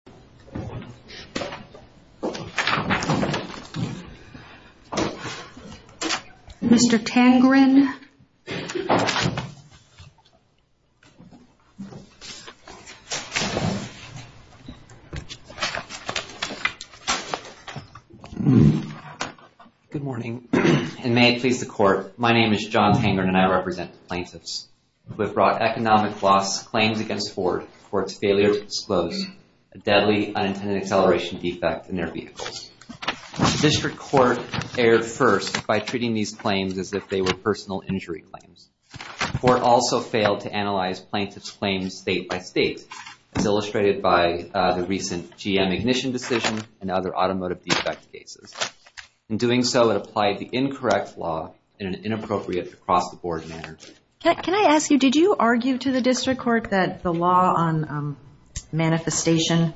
John Tangerine v. Plaintiffs Economic Loss Claims Against Ford for its Failure to Disclose a Deadly Unintended Acceleration Defect in Their Vehicles District Court Erred First by Treating These Claims as if They Were Personal Injury Claims. The Court Also Failed to Analyze Plaintiffs' Claims State-by-State, as Illustrated by the Recent GM Ignition Decision and Other Automotive Defect Cases. In Doing So, It Applied the Incorrect Law in an Inappropriate, Across-the-Board Manner. Can I ask you, did you argue to the District Court that the law on manifestation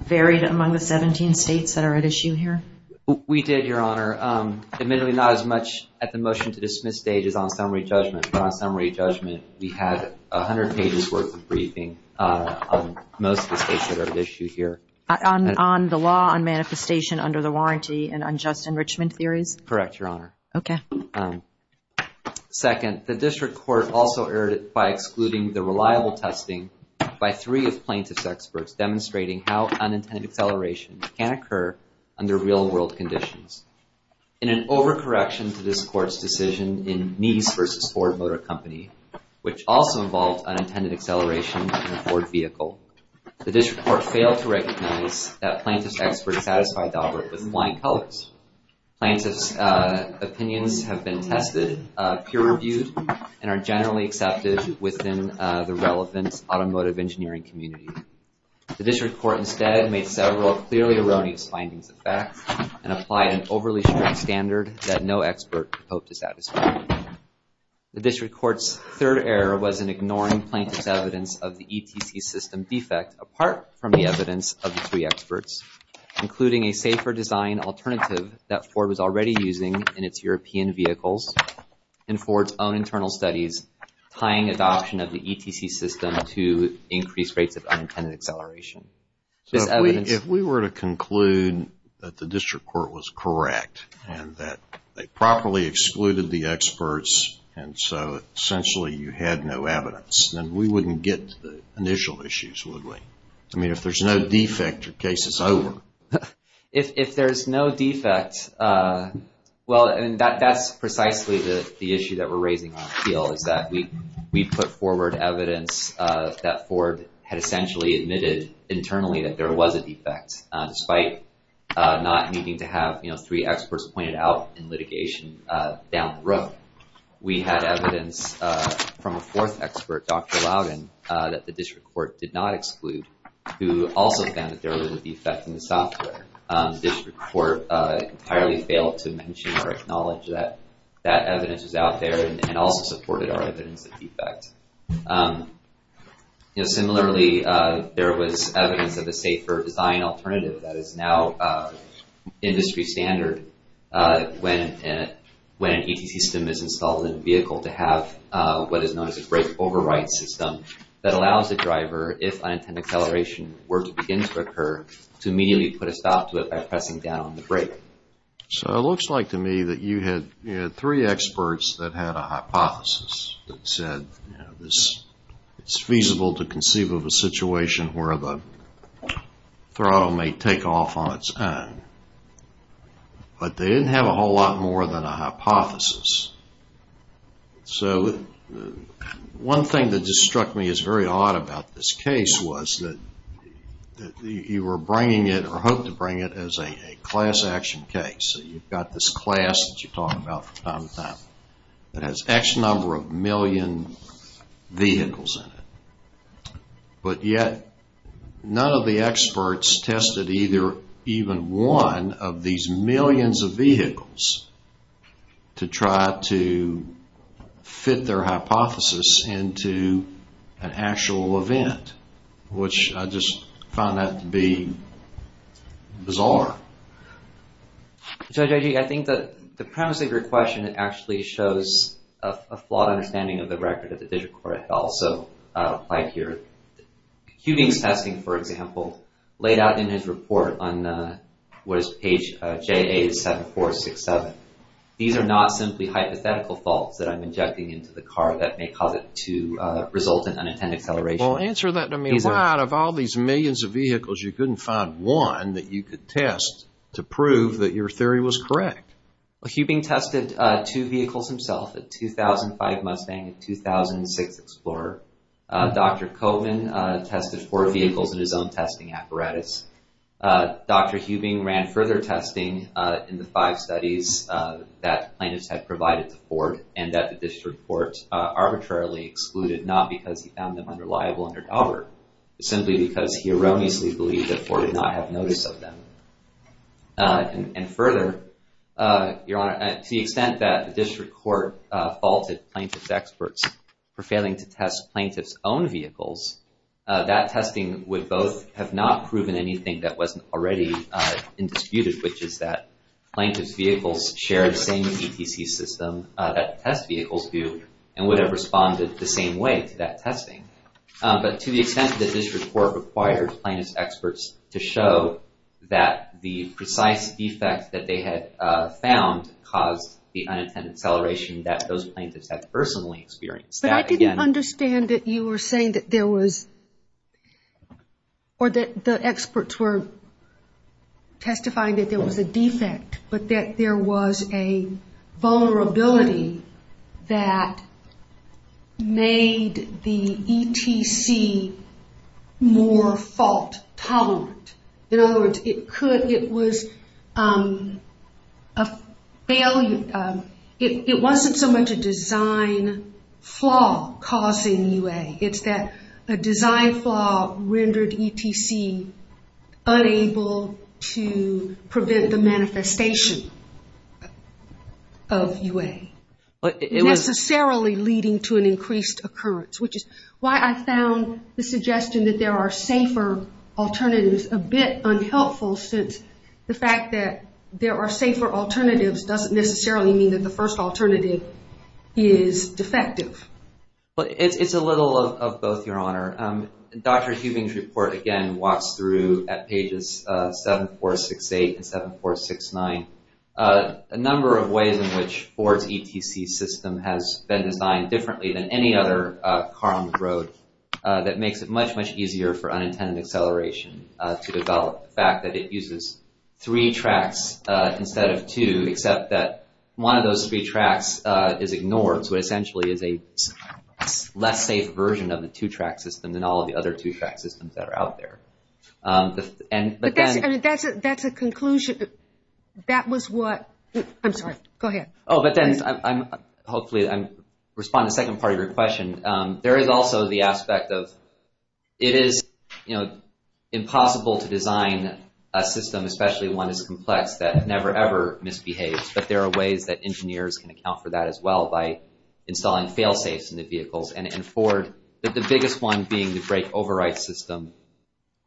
varied among the 17 states that are at issue here? We did, Your Honor. Admittedly, not as much at the motion-to-dismiss stage as on summary judgment. But on summary judgment, we had 100 pages worth of briefing on most of the states that are at issue here. On the law on manifestation under the warranty and unjust enrichment theories? Correct, Your Honor. Okay. Thank you, Your Honor. Second, the District Court also Erred by Excluding the Reliable Testing by Three of Plaintiffs' Experts Demonstrating How Unintended Acceleration Can Occur Under Real-World Conditions. In an overcorrection to this Court's decision in Mies v. Ford Motor Company, which also involved unintended acceleration in a Ford vehicle, the District Court failed to recognize that Plaintiffs' Experts Satisfied Daubert with Flying Colors. Plaintiffs' opinions have been tested, peer-reviewed, and are generally accepted within the relevant automotive engineering community. The District Court instead made several clearly erroneous findings of fact and applied an overly strict standard that no expert hoped to satisfy. The District Court's third error was in ignoring Plaintiffs' evidence of the ETC system defect apart from the evidence of the three experts, including a safer design alternative that Ford was already using in its European vehicles, and Ford's own internal studies tying adoption of the ETC system to increased rates of unintended acceleration. If we were to conclude that the District Court was correct and that they properly excluded the experts, and so essentially you had no evidence, then we wouldn't get to the initial issues, would we? I mean, if there's no defect, your case is over. If there's no defect, well, that's precisely the issue that we're raising on the field, is that we put forward evidence that Ford had essentially admitted internally that there was a defect, despite not needing to have three experts pointed out in litigation down the road. We had evidence from a fourth expert, Dr. Loudon, that the District Court did not exclude, who also found that there was a defect in the software. The District Court entirely failed to mention or acknowledge that that evidence was out there and also supported our evidence of defect. Similarly, there was evidence of a safer design alternative that is now industry standard when an ETC system is installed in a vehicle to have what is known as a brake override system that allows the driver, if unintended acceleration were to begin to occur, to immediately put a stop to it by pressing down on the brake. So it looks like to me that you had three experts that had a hypothesis that said it's feasible to conceive of a situation where the throttle may take off on its own, but they didn't have a whole lot more than a hypothesis. So one thing that just struck me as very odd about this case was that you were bringing it, or hoped to bring it, as a class action case. You've got this class that you talk about from time to time that has X number of million vehicles in it, but yet none of the experts tested either even one of these millions of vehicles to try to fit their hypothesis into an actual event, which I just found that to be bizarre. Judge Agee, I think that the premise of your question actually shows a flawed understanding of the record that the district court had also applied here. Hubing's testing, for example, laid out in his report on what is page J87467. These are not simply hypothetical faults that I'm injecting into the car that may cause it to result in unintended acceleration. Well, answer that to me. Why, out of all these millions of vehicles, you couldn't find one that you could test to prove that your theory was correct? Well, Hubing tested two vehicles himself, a 2005 Mustang and a 2006 Explorer. Dr. Koven tested four vehicles in his own testing apparatus. Dr. Hubing ran further testing in the five studies that plaintiffs had provided to Ford and that the district court arbitrarily excluded, not because he found them unreliable under Daubert, but simply because he erroneously believed that Ford did not have notice of them. And further, Your Honor, to the extent that the district court faulted plaintiff's experts for failing to test plaintiff's own vehicles, that testing would both have not proven anything that wasn't already in disputed, which is that plaintiff's vehicles share the same ETC system that test vehicles do and would have responded the same way to that testing. But to the extent that the district court required plaintiff's experts to show that the precise defect that they had found caused the unintended acceleration that those plaintiffs had personally experienced. But I didn't understand that you were saying that there was, or that the experts were testifying that there was a defect, but that there was a vulnerability that made the ETC more fault tolerant. In other words, it wasn't so much a design flaw causing UA, it's that a design flaw rendered ETC unable to prevent the manifestation of UA. Necessarily leading to an increased occurrence, which is why I found the suggestion that there are safer alternatives a bit unhelpful, since the fact that there are safer alternatives doesn't necessarily mean that the first alternative is defective. It's a little of both, Your Honor. Dr. Hubing's report again walks through at pages 7468 and 7469. A number of ways in which Ford's ETC system has been designed differently than any other car on the road that makes it much, much easier for unintended acceleration to develop. The fact that it uses three tracks instead of two, except that one of those three tracks is ignored, so it essentially is a less safe version of the two-track system than all of the other two-track systems that are out there. But that's a conclusion, that was what, I'm sorry, go ahead. Oh, but then hopefully I'm responding to the second part of your question. There is also the aspect of, it is impossible to design a system, especially one as complex, that never, ever misbehaves, but there are ways that engineers can account for that as well by installing fail-safes in the vehicles, and in Ford, the biggest one being the brake override system.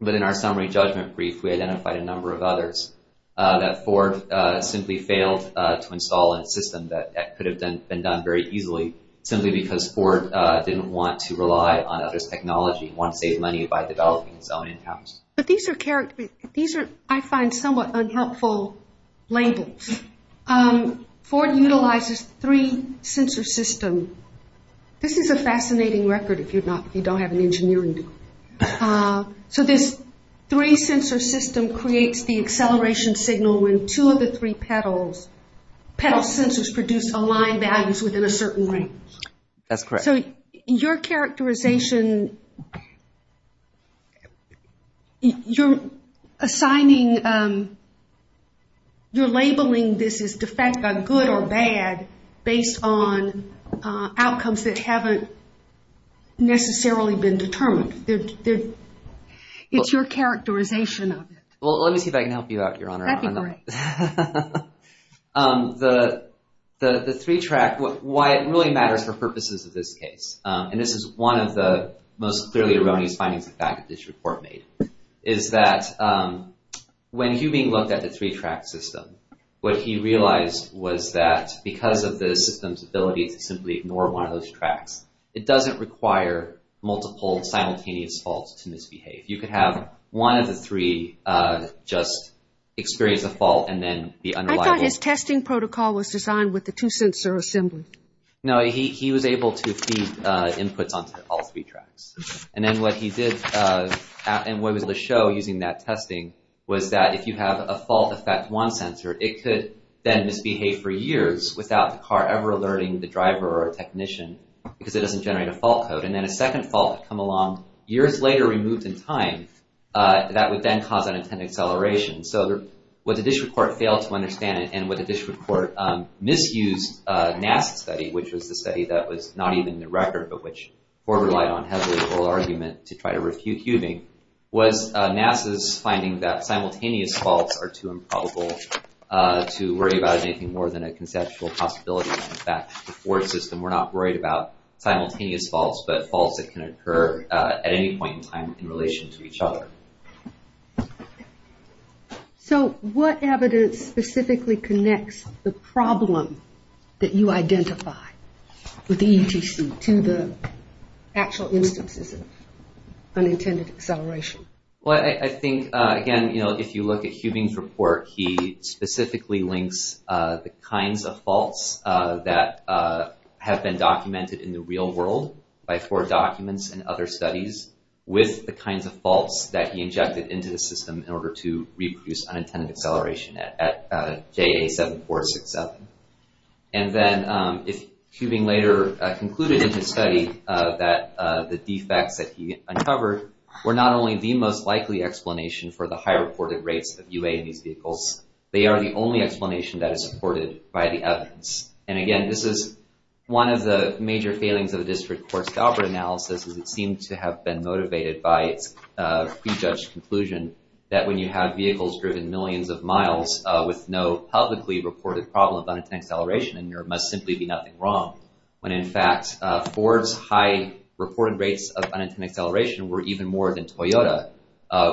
But in our summary judgment brief, we identified a number of others, that Ford simply failed to install a system that could have been done very easily, simply because Ford didn't want to rely on others' technology, want to save money by developing its own in-house. But these are, I find, somewhat unhelpful labels. Ford utilizes three-sensor system. This is a fascinating record if you don't have an engineering degree. So this three-sensor system creates the acceleration signal when two of the three pedals, pedal sensors produce aligned values within a certain range. That's correct. So your characterization, you're assigning, you're labeling this as de facto good or bad, based on outcomes that haven't necessarily been determined. It's your characterization of it. Well, let me see if I can help you out, Your Honor. That'd be great. The three-track, why it really matters for purposes of this case, and this is one of the most clearly erroneous findings of fact that this report made, is that when Hubing looked at the three-track system, what he realized was that because of the system's ability to simply ignore one of those tracks, it doesn't require multiple simultaneous faults to misbehave. If you could have one of the three just experience a fault and then be unreliable. I thought his testing protocol was designed with the two-sensor assembly. No, he was able to feed inputs onto all three tracks. And then what he did, and what he was able to show using that testing, was that if you have a fault affect one sensor, it could then misbehave for years without the car ever alerting the driver or technician because it doesn't generate a fault code. And then a second fault would come along years later removed in time. That would then cause unintended acceleration. So what the district court failed to understand, and what the district court misused NASA's study, which was the study that was not even in the record, but which Ford relied on heavily for argument to try to refute Hubing, was NASA's finding that simultaneous faults are too improbable to worry about in anything more than a conceptual possibility. In fact, the Ford system were not worried about simultaneous faults, but faults that can occur at any point in time in relation to each other. So what evidence specifically connects the problem that you identify with the ETC to the actual instances of unintended acceleration? Well, I think, again, if you look at Hubing's report, he specifically links the kinds of faults that have been documented in the real world by Ford documents and other studies with the kinds of faults that he injected into the system in order to reproduce unintended acceleration at JA7467. And then if Hubing later concluded in his study that the defects that he uncovered were not only the most likely explanation for the high reported rates of UA in these vehicles, they are the only explanation that is supported by the evidence. And again, this is one of the major failings of the district court's Galbraith analysis as it seemed to have been motivated by its prejudged conclusion that when you have vehicles driven millions of miles with no publicly reported problem of unintended acceleration, then there must simply be nothing wrong. When in fact, Ford's high reported rates of unintended acceleration were even more than Toyota,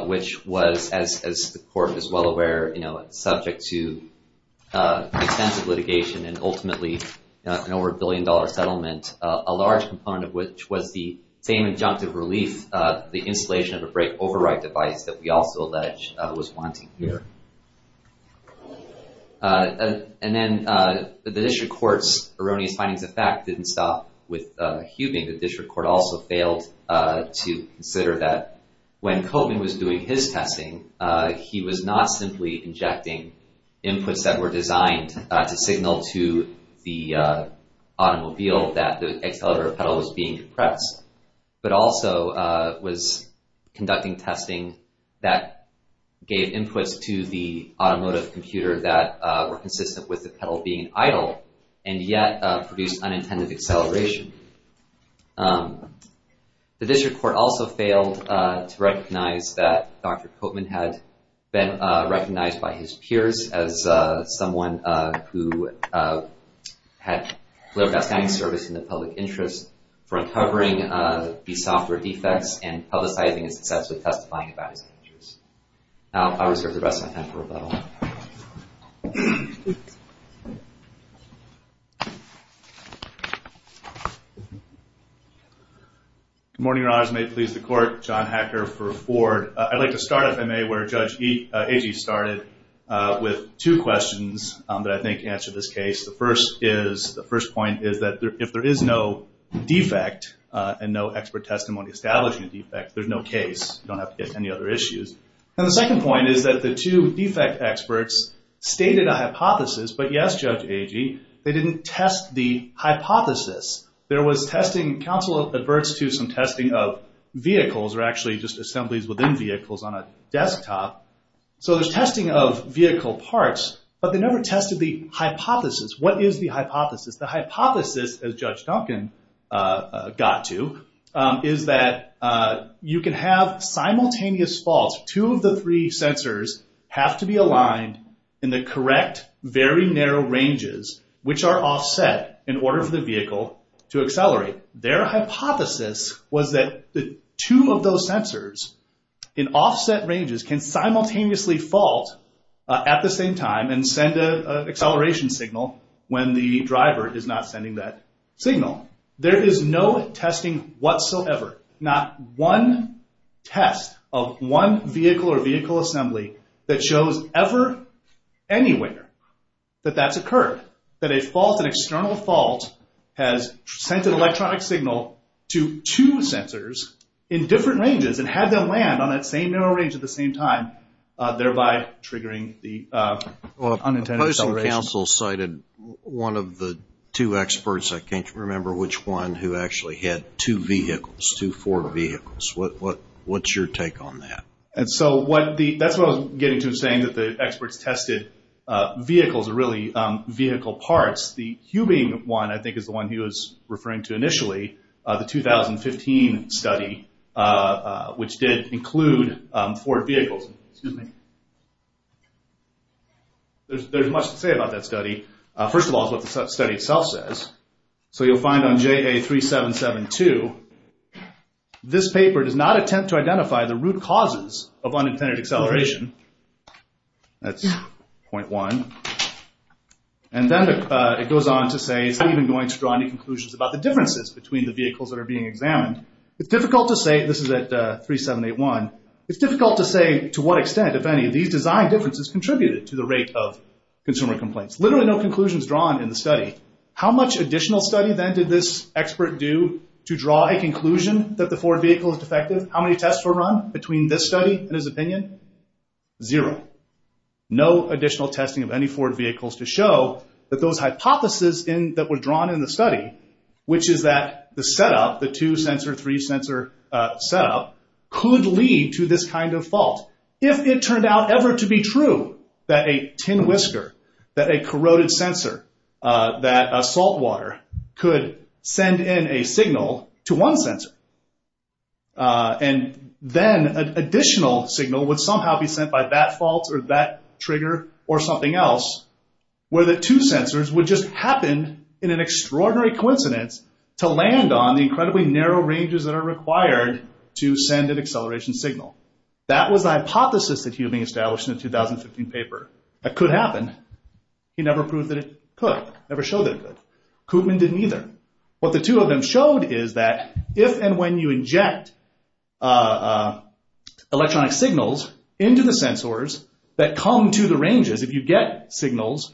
which was, as the court is well aware, subject to extensive litigation and ultimately an over a billion dollar settlement, a large component of which was the same injunctive relief, the installation of a brake override device that we also allege was wanting here. And then the district court's erroneous findings of fact didn't stop with Hubing. The district court also failed to consider that when Koven was doing his testing, he was not simply injecting inputs that were designed to signal to the automobile that the accelerator pedal was being compressed, but also was conducting testing that gave inputs to the automotive computer that were consistent with the pedal being idle and yet produced unintended acceleration. The district court also failed to recognize that Dr. Koven had been recognized by his peers as someone who had played a outstanding service in the public interest for uncovering the software defects and publicizing and successfully testifying about his actions. Now I reserve the rest of my time for rebuttal. Good morning, Your Honors. May it please the court. John Hacker for Ford. I'd like to start, if I may, where Judge Agee started with two questions that I think answer this case. The first point is that if there is no defect and no expert testimony establishing a defect, there's no case. You don't have to get any other issues. And the second point is that the two defect experts stated a hypothesis, but yes, Judge Agee, they didn't test the hypothesis. There was testing, counsel adverts to some testing of vehicles or actually just assemblies within vehicles on a desktop. So there's testing of vehicle parts, but they never tested the hypothesis. What is the hypothesis? The hypothesis, as Judge Duncan got to, is that you can have simultaneous faults. Two of the three sensors have to be aligned in the correct, very narrow ranges, which are offset in order for the vehicle to accelerate. Their hypothesis was that two of those sensors in offset ranges can simultaneously fault at the same time and send an acceleration signal when the driver is not sending that signal. There is no testing whatsoever, not one test of one vehicle or vehicle assembly that shows ever anywhere that that's occurred, that a fault, an external fault, has sent an electronic signal to two sensors in different ranges and had them land on that same narrow range at the same time, thereby triggering the unintended acceleration. The Postal Council cited one of the two experts. I can't remember which one who actually had two vehicles, two Ford vehicles. What's your take on that? And so that's what I was getting to in saying that the experts tested vehicles are really vehicle parts. The Hubing one, I think, is the one he was referring to initially, the 2015 study, which did include Ford vehicles. There's much to say about that study. First of all, it's what the study itself says. So you'll find on JA3772, this paper does not attempt to identify the root causes of unintended acceleration. That's point one. And then it goes on to say, it's not even going to draw any conclusions about the differences between the vehicles that are being examined. It's difficult to say, this is at 3781, it's difficult to say to what extent, if any, these design differences contributed to the rate of consumer complaints. Literally no conclusions drawn in the study. How much additional study then did this expert do to draw a conclusion that the Ford vehicle is defective? How many tests were run between this study and his opinion? Zero. No additional testing of any Ford vehicles to show that those hypotheses that were drawn in the study, which is that the setup, the two-sensor, three-sensor setup, could lead to this kind of fault. If it turned out ever to be true that a tin whisker, that a corroded sensor, that a saltwater could send in a signal to one sensor, and then an additional signal would somehow be sent by that fault or that trigger or something else, where the two sensors would just happen, in an extraordinary coincidence, to land on the incredibly narrow ranges that are required to send an acceleration signal. That was the hypothesis that Hubing established in the 2015 paper. That could happen. He never proved that it could, never showed that it could. Koopman didn't either. What the two of them showed is that if and when you inject electronic signals into the sensors that come to the ranges, if you get signals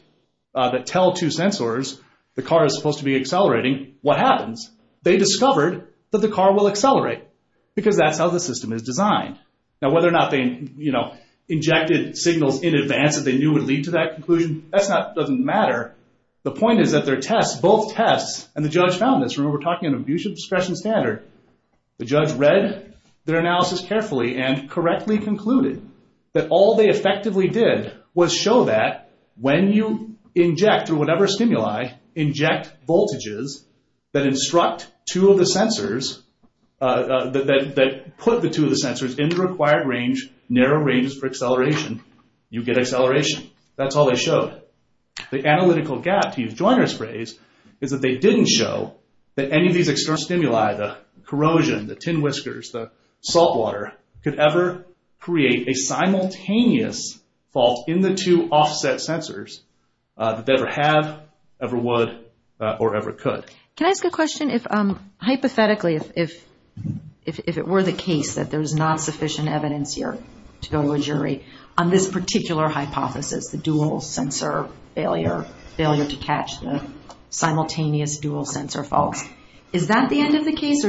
that tell two sensors the car is supposed to be accelerating, what happens? They discovered that the car will accelerate because that's how the system is designed. Now whether or not they, you know, because they knew it would lead to that conclusion, that doesn't matter. The point is that their tests, both tests, and the judge found this. Remember, we're talking an abusive discretion standard. The judge read their analysis carefully and correctly concluded that all they effectively did was show that when you inject, or whatever stimuli, inject voltages that instruct two of the sensors, that put the two of the sensors in the required range, narrow ranges for acceleration, you get acceleration. That's all they showed. The analytical gap, to use Joyner's phrase, is that they didn't show that any of these external stimuli, the corrosion, the tin whiskers, the salt water, could ever create a simultaneous fault in the two offset sensors that they ever have, ever would, or ever could. Can I ask a question? Hypothetically, if it were the case that there's not sufficient evidence here to go to a jury on this particular hypothesis, the dual sensor failure, failure to catch the simultaneous dual sensor fault, is that the end of the case?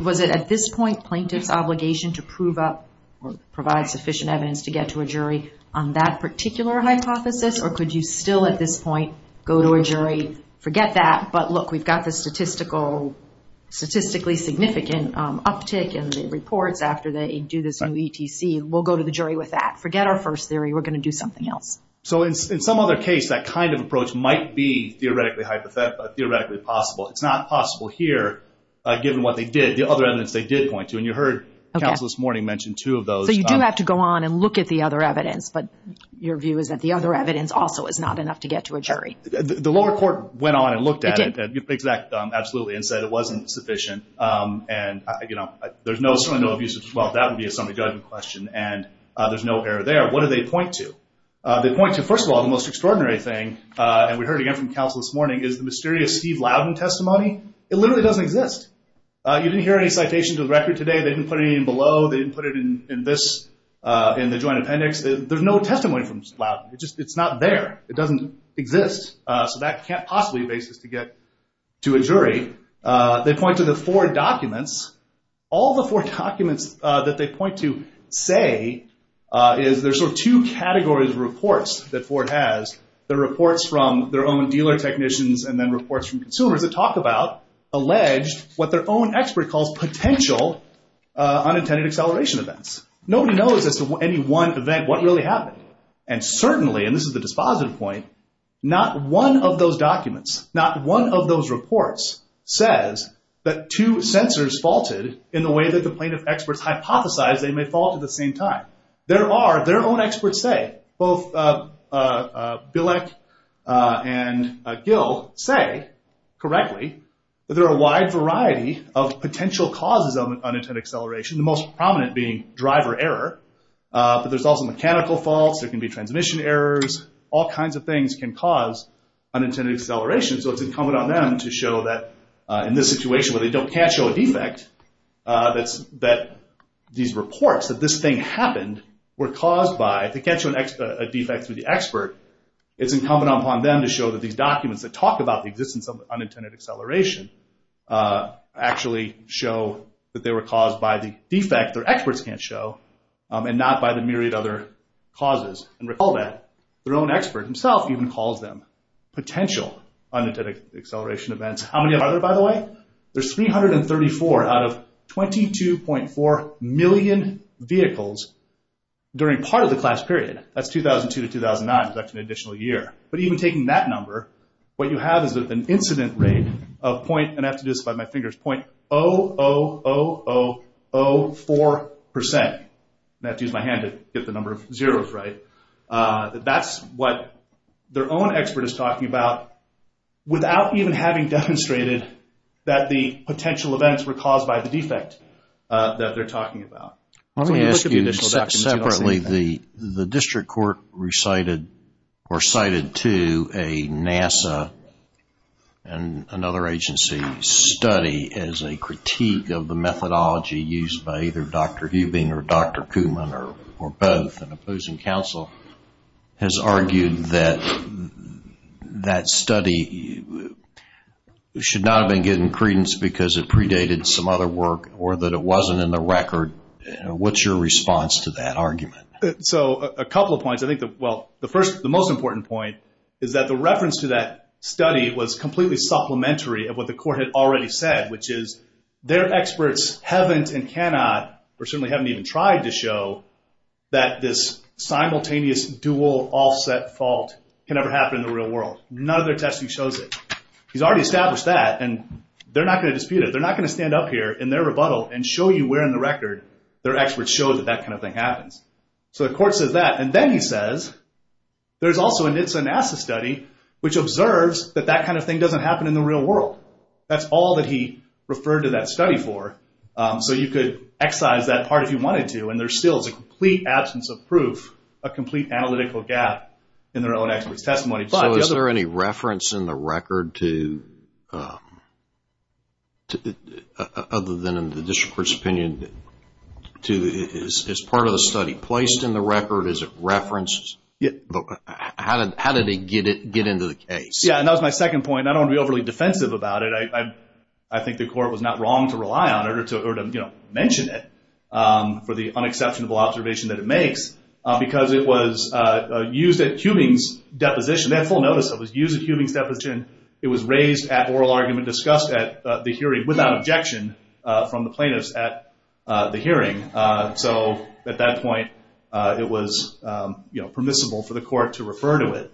Was it at this point plaintiff's obligation to prove up or provide sufficient evidence to get to a jury on that particular hypothesis, or could you still, at this point, go to a jury, forget that, but look, we've got the statistically significant uptick in the reports after they do this new ETC. We'll go to the jury with that. Forget our first theory. We're going to do something else. So in some other case, that kind of approach might be theoretically possible. It's not possible here, given what they did, the other evidence they did point to, and you heard counsel this morning mention two of those. So you do have to go on and look at the other evidence, but your view is that the other evidence also is not enough to get to a jury. The lower court went on and looked at it. It did. Absolutely, and said it wasn't sufficient, and there's certainly no abuse of, well, that would be a summary judgment question, and there's no error there. What do they point to? They point to, first of all, the most extraordinary thing, and we heard again from counsel this morning, is the mysterious Steve Loudon testimony. It literally doesn't exist. You didn't hear any citations of the record today. They didn't put it in below. They didn't put it in this, in the joint appendix. There's no testimony from Steve Loudon. It's not there. It doesn't exist. So that can't possibly be a basis to get to a jury. They point to the four documents. All the four documents that they point to say is there's sort of two categories of reports that Ford has. There are reports from their own dealer technicians, and then reports from consumers that talk about, allege, what their own expert calls potential unintended acceleration events. Nobody knows as to any one event what really happened, and certainly, and this is the dispositive point, not one of those documents, not one of those reports, says that two sensors faulted in the way that the plaintiff experts hypothesized they may fault at the same time. There are, their own experts say, both Bilek and Gill say, correctly, that there are a wide variety of potential causes of unintended acceleration, the most prominent being driver error, but there's also mechanical faults. There can be transmission errors. All kinds of things can cause unintended acceleration, so it's incumbent on them to show that, in this situation where they can't show a defect, that these reports, that this thing happened, were caused by, they can't show a defect through the expert, it's incumbent upon them to show that these documents that talk about the existence of unintended acceleration actually show that they were caused by the defect their experts can't show, and not by the myriad other causes. And recall that, their own expert himself even calls them potential unintended acceleration events. How many are there, by the way? There's 334 out of 22.4 million vehicles during part of the class period. That's 2002 to 2009, that's an additional year. But even taking that number, what you have is an incident rate of, and I have to do this by my fingers, .00004%, I have to use my hand to get the number of zeros right. That's what their own expert is talking about without even having demonstrated that the potential events were caused by the defect that they're talking about. Let me ask you this separately, the district court recited, or cited to a NASA and another agency study as a critique of the methodology used by either Dr. Hubing or Dr. Kuhlman or both, and opposing counsel has argued that that study should not have been given credence because it predated some other work or that it wasn't in the record. What's your response to that argument? So, a couple of points. I think that, well, the first, the most important point is that the reference to that study was completely supplementary of what the court had already said, which is their experts haven't and cannot, or certainly haven't even tried to show that this simultaneous dual offset fault can ever happen in the real world. None of their testing shows it. He's already established that, and they're not going to dispute it. They're not going to stand up here in their rebuttal and show you we're in the record. Their experts show that that kind of thing happens. So, the court says that. And then he says, there's also a NHTSA and NASA study which observes that that kind of thing doesn't happen in the real world. That's all that he referred to that study for. So, you could excise that part if you wanted to, and there still is a complete absence of proof, a complete analytical gap in their own expert's testimony. So, is there any reference in the record to, other than in the district court's opinion, to, is part of the study placed in the record? Is it referenced? How did it get into the case? Yeah, and that was my second point. And I don't want to be overly defensive about it. I think the court was not wrong to rely on it or to mention it for the unexceptionable observation that it makes because it was used at Huming's deposition. They had full notice that it was used at Huming's deposition. It was raised at oral argument, discussed at the hearing without objection from the plaintiffs at the hearing. So, at that point, it was permissible for the court to refer to it.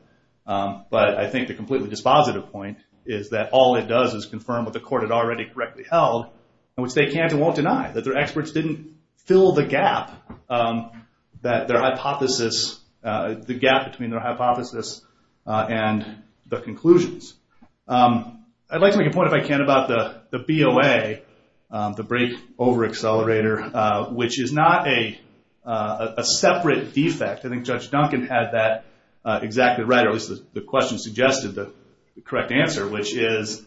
But I think the completely dispositive point is that all it does is confirm what the court had already correctly held, which they can't and won't deny, that their experts didn't fill the gap that their hypothesis, the gap between their hypothesis and the conclusions. I'd like to make a point, if I can, about the BOA, the brake over accelerator, which is not a separate defect. I think Judge Duncan had that exactly right, or at least the question suggested the correct answer, which is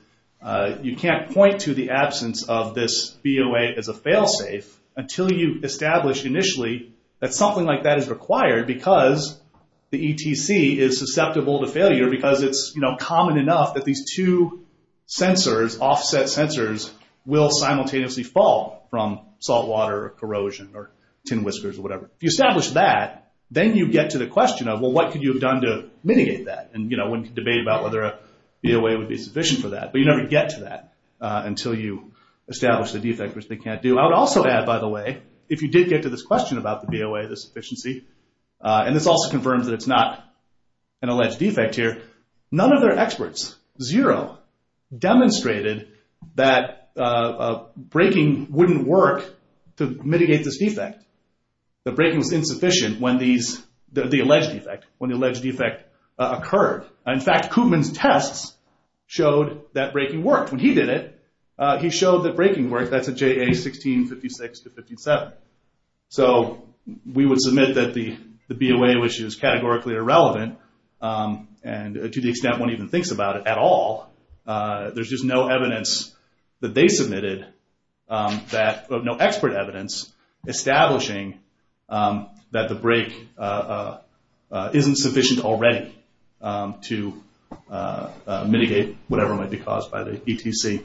you can't point to the absence of this BOA as a fail-safe until you establish initially that something like that is required because the ETC is susceptible to failure because it's common enough that these two sensors, offset sensors, will simultaneously fall from saltwater or corrosion or tin whiskers or whatever. If you establish that, then you get to the question of, well, what could you have done to mitigate that? And, you know, one could debate about whether a BOA would be sufficient for that. But you never get to that until you establish the defect, which they can't do. I would also add, by the way, if you did get to this question about the BOA, the sufficiency, and this also confirms that it's not an alleged defect here, none of their experts, zero, demonstrated that braking wouldn't work to mitigate this defect. The braking was insufficient when these, the alleged defect, when the alleged defect occurred. In fact, Koopman's tests showed that braking worked. When he did it, he showed that braking worked. That's a JA 1656 to 57. So we would submit that the BOA, which is categorically irrelevant, and to the extent one even thinks about it at all, there's just no evidence that they submitted that, no expert evidence, establishing that the brake isn't sufficient already to mitigate whatever might be caused by the ETC.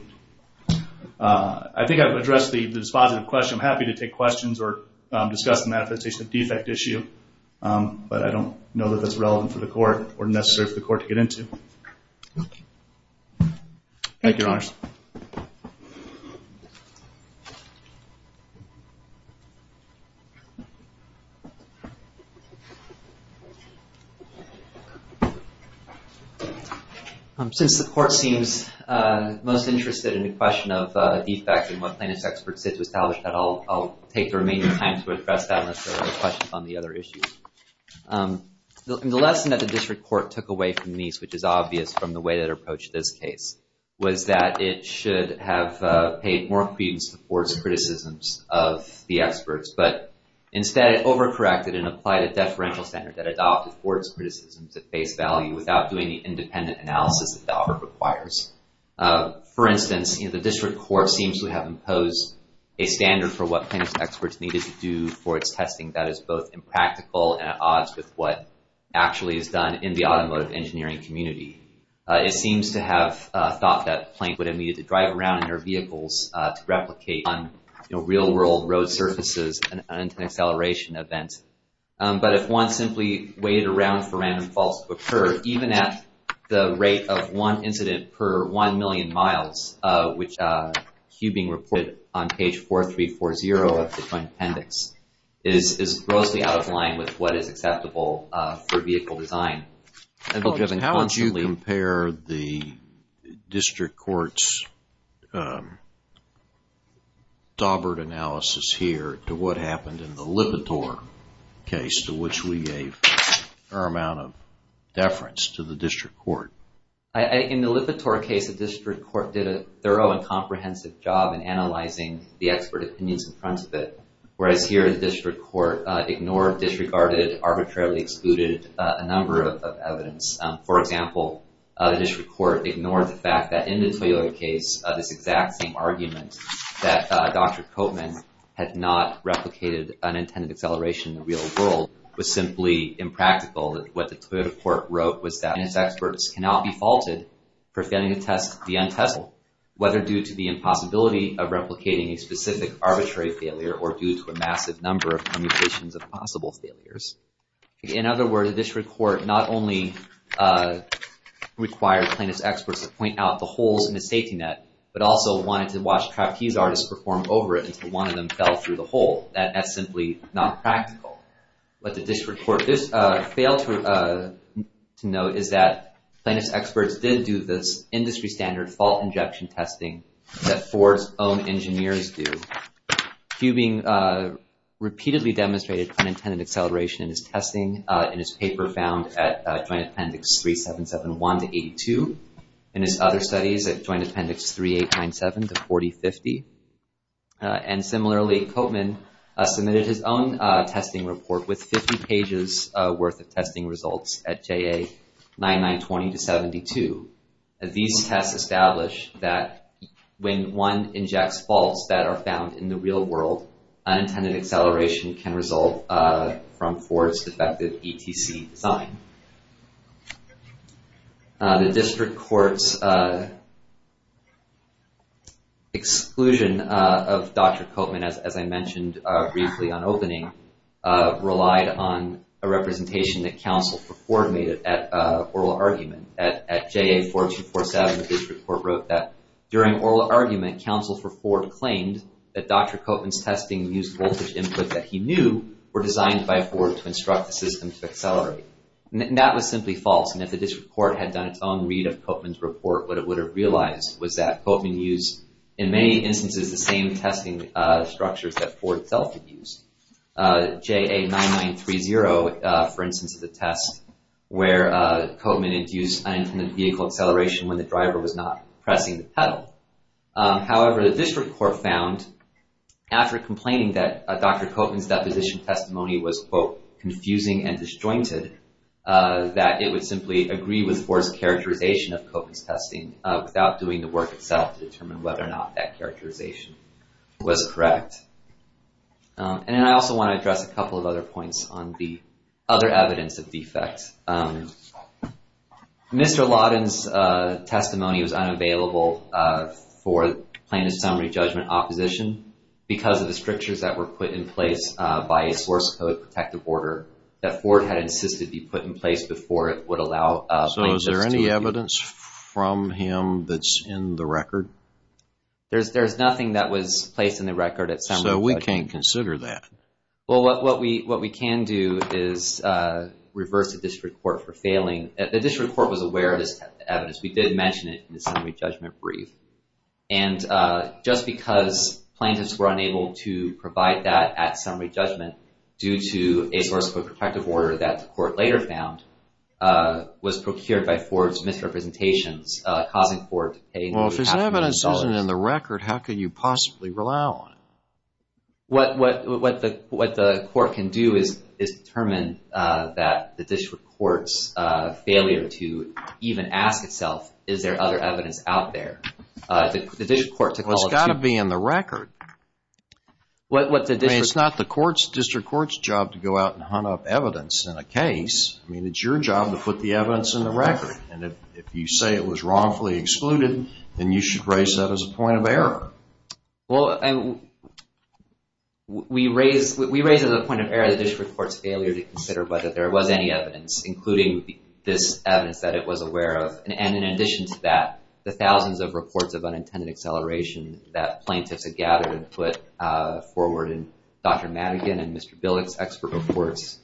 I think I've addressed this positive question. I'm happy to take questions or discuss the manifestation of defect issue, but I don't know that that's relevant for the court or necessary for the court to get into. Thank you, Your Honors. Thank you. Since the court seems most interested in the question of defects and what plaintiffs' experts said to establish that, I'll take the remaining time to address that unless there are questions on the other issues. The lesson that the district court took away from these, which is obvious from the way that it approached this case, was that it should have paid more credence to Ford's criticisms of the experts, but instead it overcorrected and applied a deferential standard that adopted Ford's criticisms at face value without doing the independent analysis that the offer requires. For instance, the district court seems to have imposed a standard for what plaintiffs' experts needed to do for its testing that is both impractical and at odds with what actually is done in the automotive engineering community. It seems to have thought that plaintiffs would have needed to drive around in their vehicles to replicate on real-world road surfaces an acceleration event. But if one simply waited around for random faults to occur, even at the rate of one incident per one million miles, which Hubing reported on page 4340 of the Joint Appendix, is grossly out of line with what is acceptable for vehicle design. How would you compare the district court's daubered analysis here to what happened in the Lipitor case to which we gave a fair amount of deference to the district court? In the Lipitor case, the district court did a thorough and comprehensive job in analyzing the expert opinions in front of it, whereas here the district court ignored, disregarded, arbitrarily excluded a number of evidence. For example, the district court ignored the fact that in the Toyota case this exact same argument that Dr. Koopman had not replicated an intended acceleration in the real world was simply impractical. What the Toyota court wrote was that NS experts cannot be faulted for failing to test the untestable whether due to the impossibility of replicating a specific arbitrary failure or due to a massive number of commutations of possible failures. In other words, the district court not only required plaintiff's experts to point out the holes in the safety net, but also wanted to watch trapeze artists perform over it until one of them fell through the hole. That's simply not practical. What the district court failed to note is that plaintiff's experts did do this industry standard fault injection testing that Ford's own engineers do. Cubing repeatedly demonstrated unintended acceleration in his testing in his paper found at Joint Appendix 3771-82 and his other studies at Joint Appendix 3897-4050. And similarly, Koopman submitted his own testing report with 50 pages worth of testing results at JA 9920-72. These tests establish that when one injects faults that are found in the real world, unintended acceleration can result from Ford's defective ETC design. The district court's exclusion of Dr. Koopman, as I mentioned briefly on opening, relied on a representation that counsel for Ford made at oral argument. At JA 4247, the district court wrote that during oral argument, counsel for Ford claimed that Dr. Koopman's testing used voltage input that he knew were designed by Ford to instruct the system to accelerate. And that was simply false. And if the district court had done its own read of Koopman's report, what it would have realized was that Koopman used, in many instances, the same testing structures that Ford itself had used. JA 9930, for instance, is a test where Koopman induced unintended vehicle acceleration when the driver was not pressing the pedal. However, the district court found, after complaining that Dr. Koopman's deposition testimony was, quote, confusing and disjointed, that it would simply agree with Ford's characterization of Koopman's testing without doing the work itself to determine whether or not that characterization was correct. And I also want to address a couple of other points on the other evidence of defects. Mr. Lawton's testimony was unavailable for plaintiff's summary judgment opposition because of the strictures that were put in place by a source code protective order that Ford had insisted be put in place before it would allow plaintiffs to... So is there any evidence from him that's in the record? There's nothing that was placed in the record at summary judgment. So we can't consider that. Well, what we can do is reverse the district court for failing. The district court was aware of this evidence. We did mention it in the summary judgment brief. And just because plaintiffs were unable to provide that at summary judgment due to a source code protective order that the court later found was procured by Ford's misrepresentations, causing the court to pay... Well, if there's evidence that isn't in the record, how can you possibly rely on it? What the court can do is determine that the district court's failure to even ask itself, is there other evidence out there? The district court to call it... Well, it's got to be in the record. What the district... I mean, it's not the district court's job to go out and hunt up evidence in a case. I mean, it's your job to put the evidence in the record. And if you say it was wrongfully excluded, then you should raise that as a point of error. Well, we raise as a point of error the district court's failure to consider whether there was any evidence, including this evidence that it was aware of. And in addition to that, the thousands of reports of unintended acceleration that plaintiffs had gathered and put forward in Dr. Madigan and Mr. Billick's expert reports,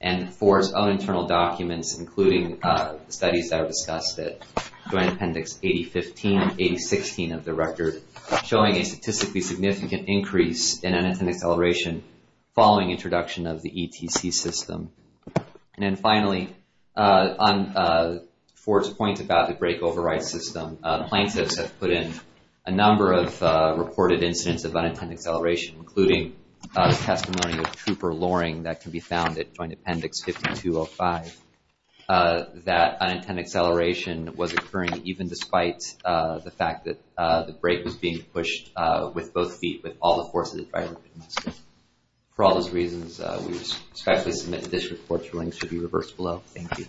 and Ford's own internal documents, including the studies that are discussed at Joint Appendix 8015 and 8016 of the record, showing a statistically significant increase in unintended acceleration following introduction of the ETC system. And then finally, on Ford's point about the brake override system, plaintiffs have put in a number of reported incidents of unintended acceleration, including the testimony of Trooper Loring that can be found at Joint Appendix 5205, that unintended acceleration was occurring even despite the fact that the brake was being pushed with both feet with all the force of the driver. For all those reasons, we respectfully submit that this report's links should be reversed below. Thank you.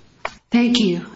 Thank you.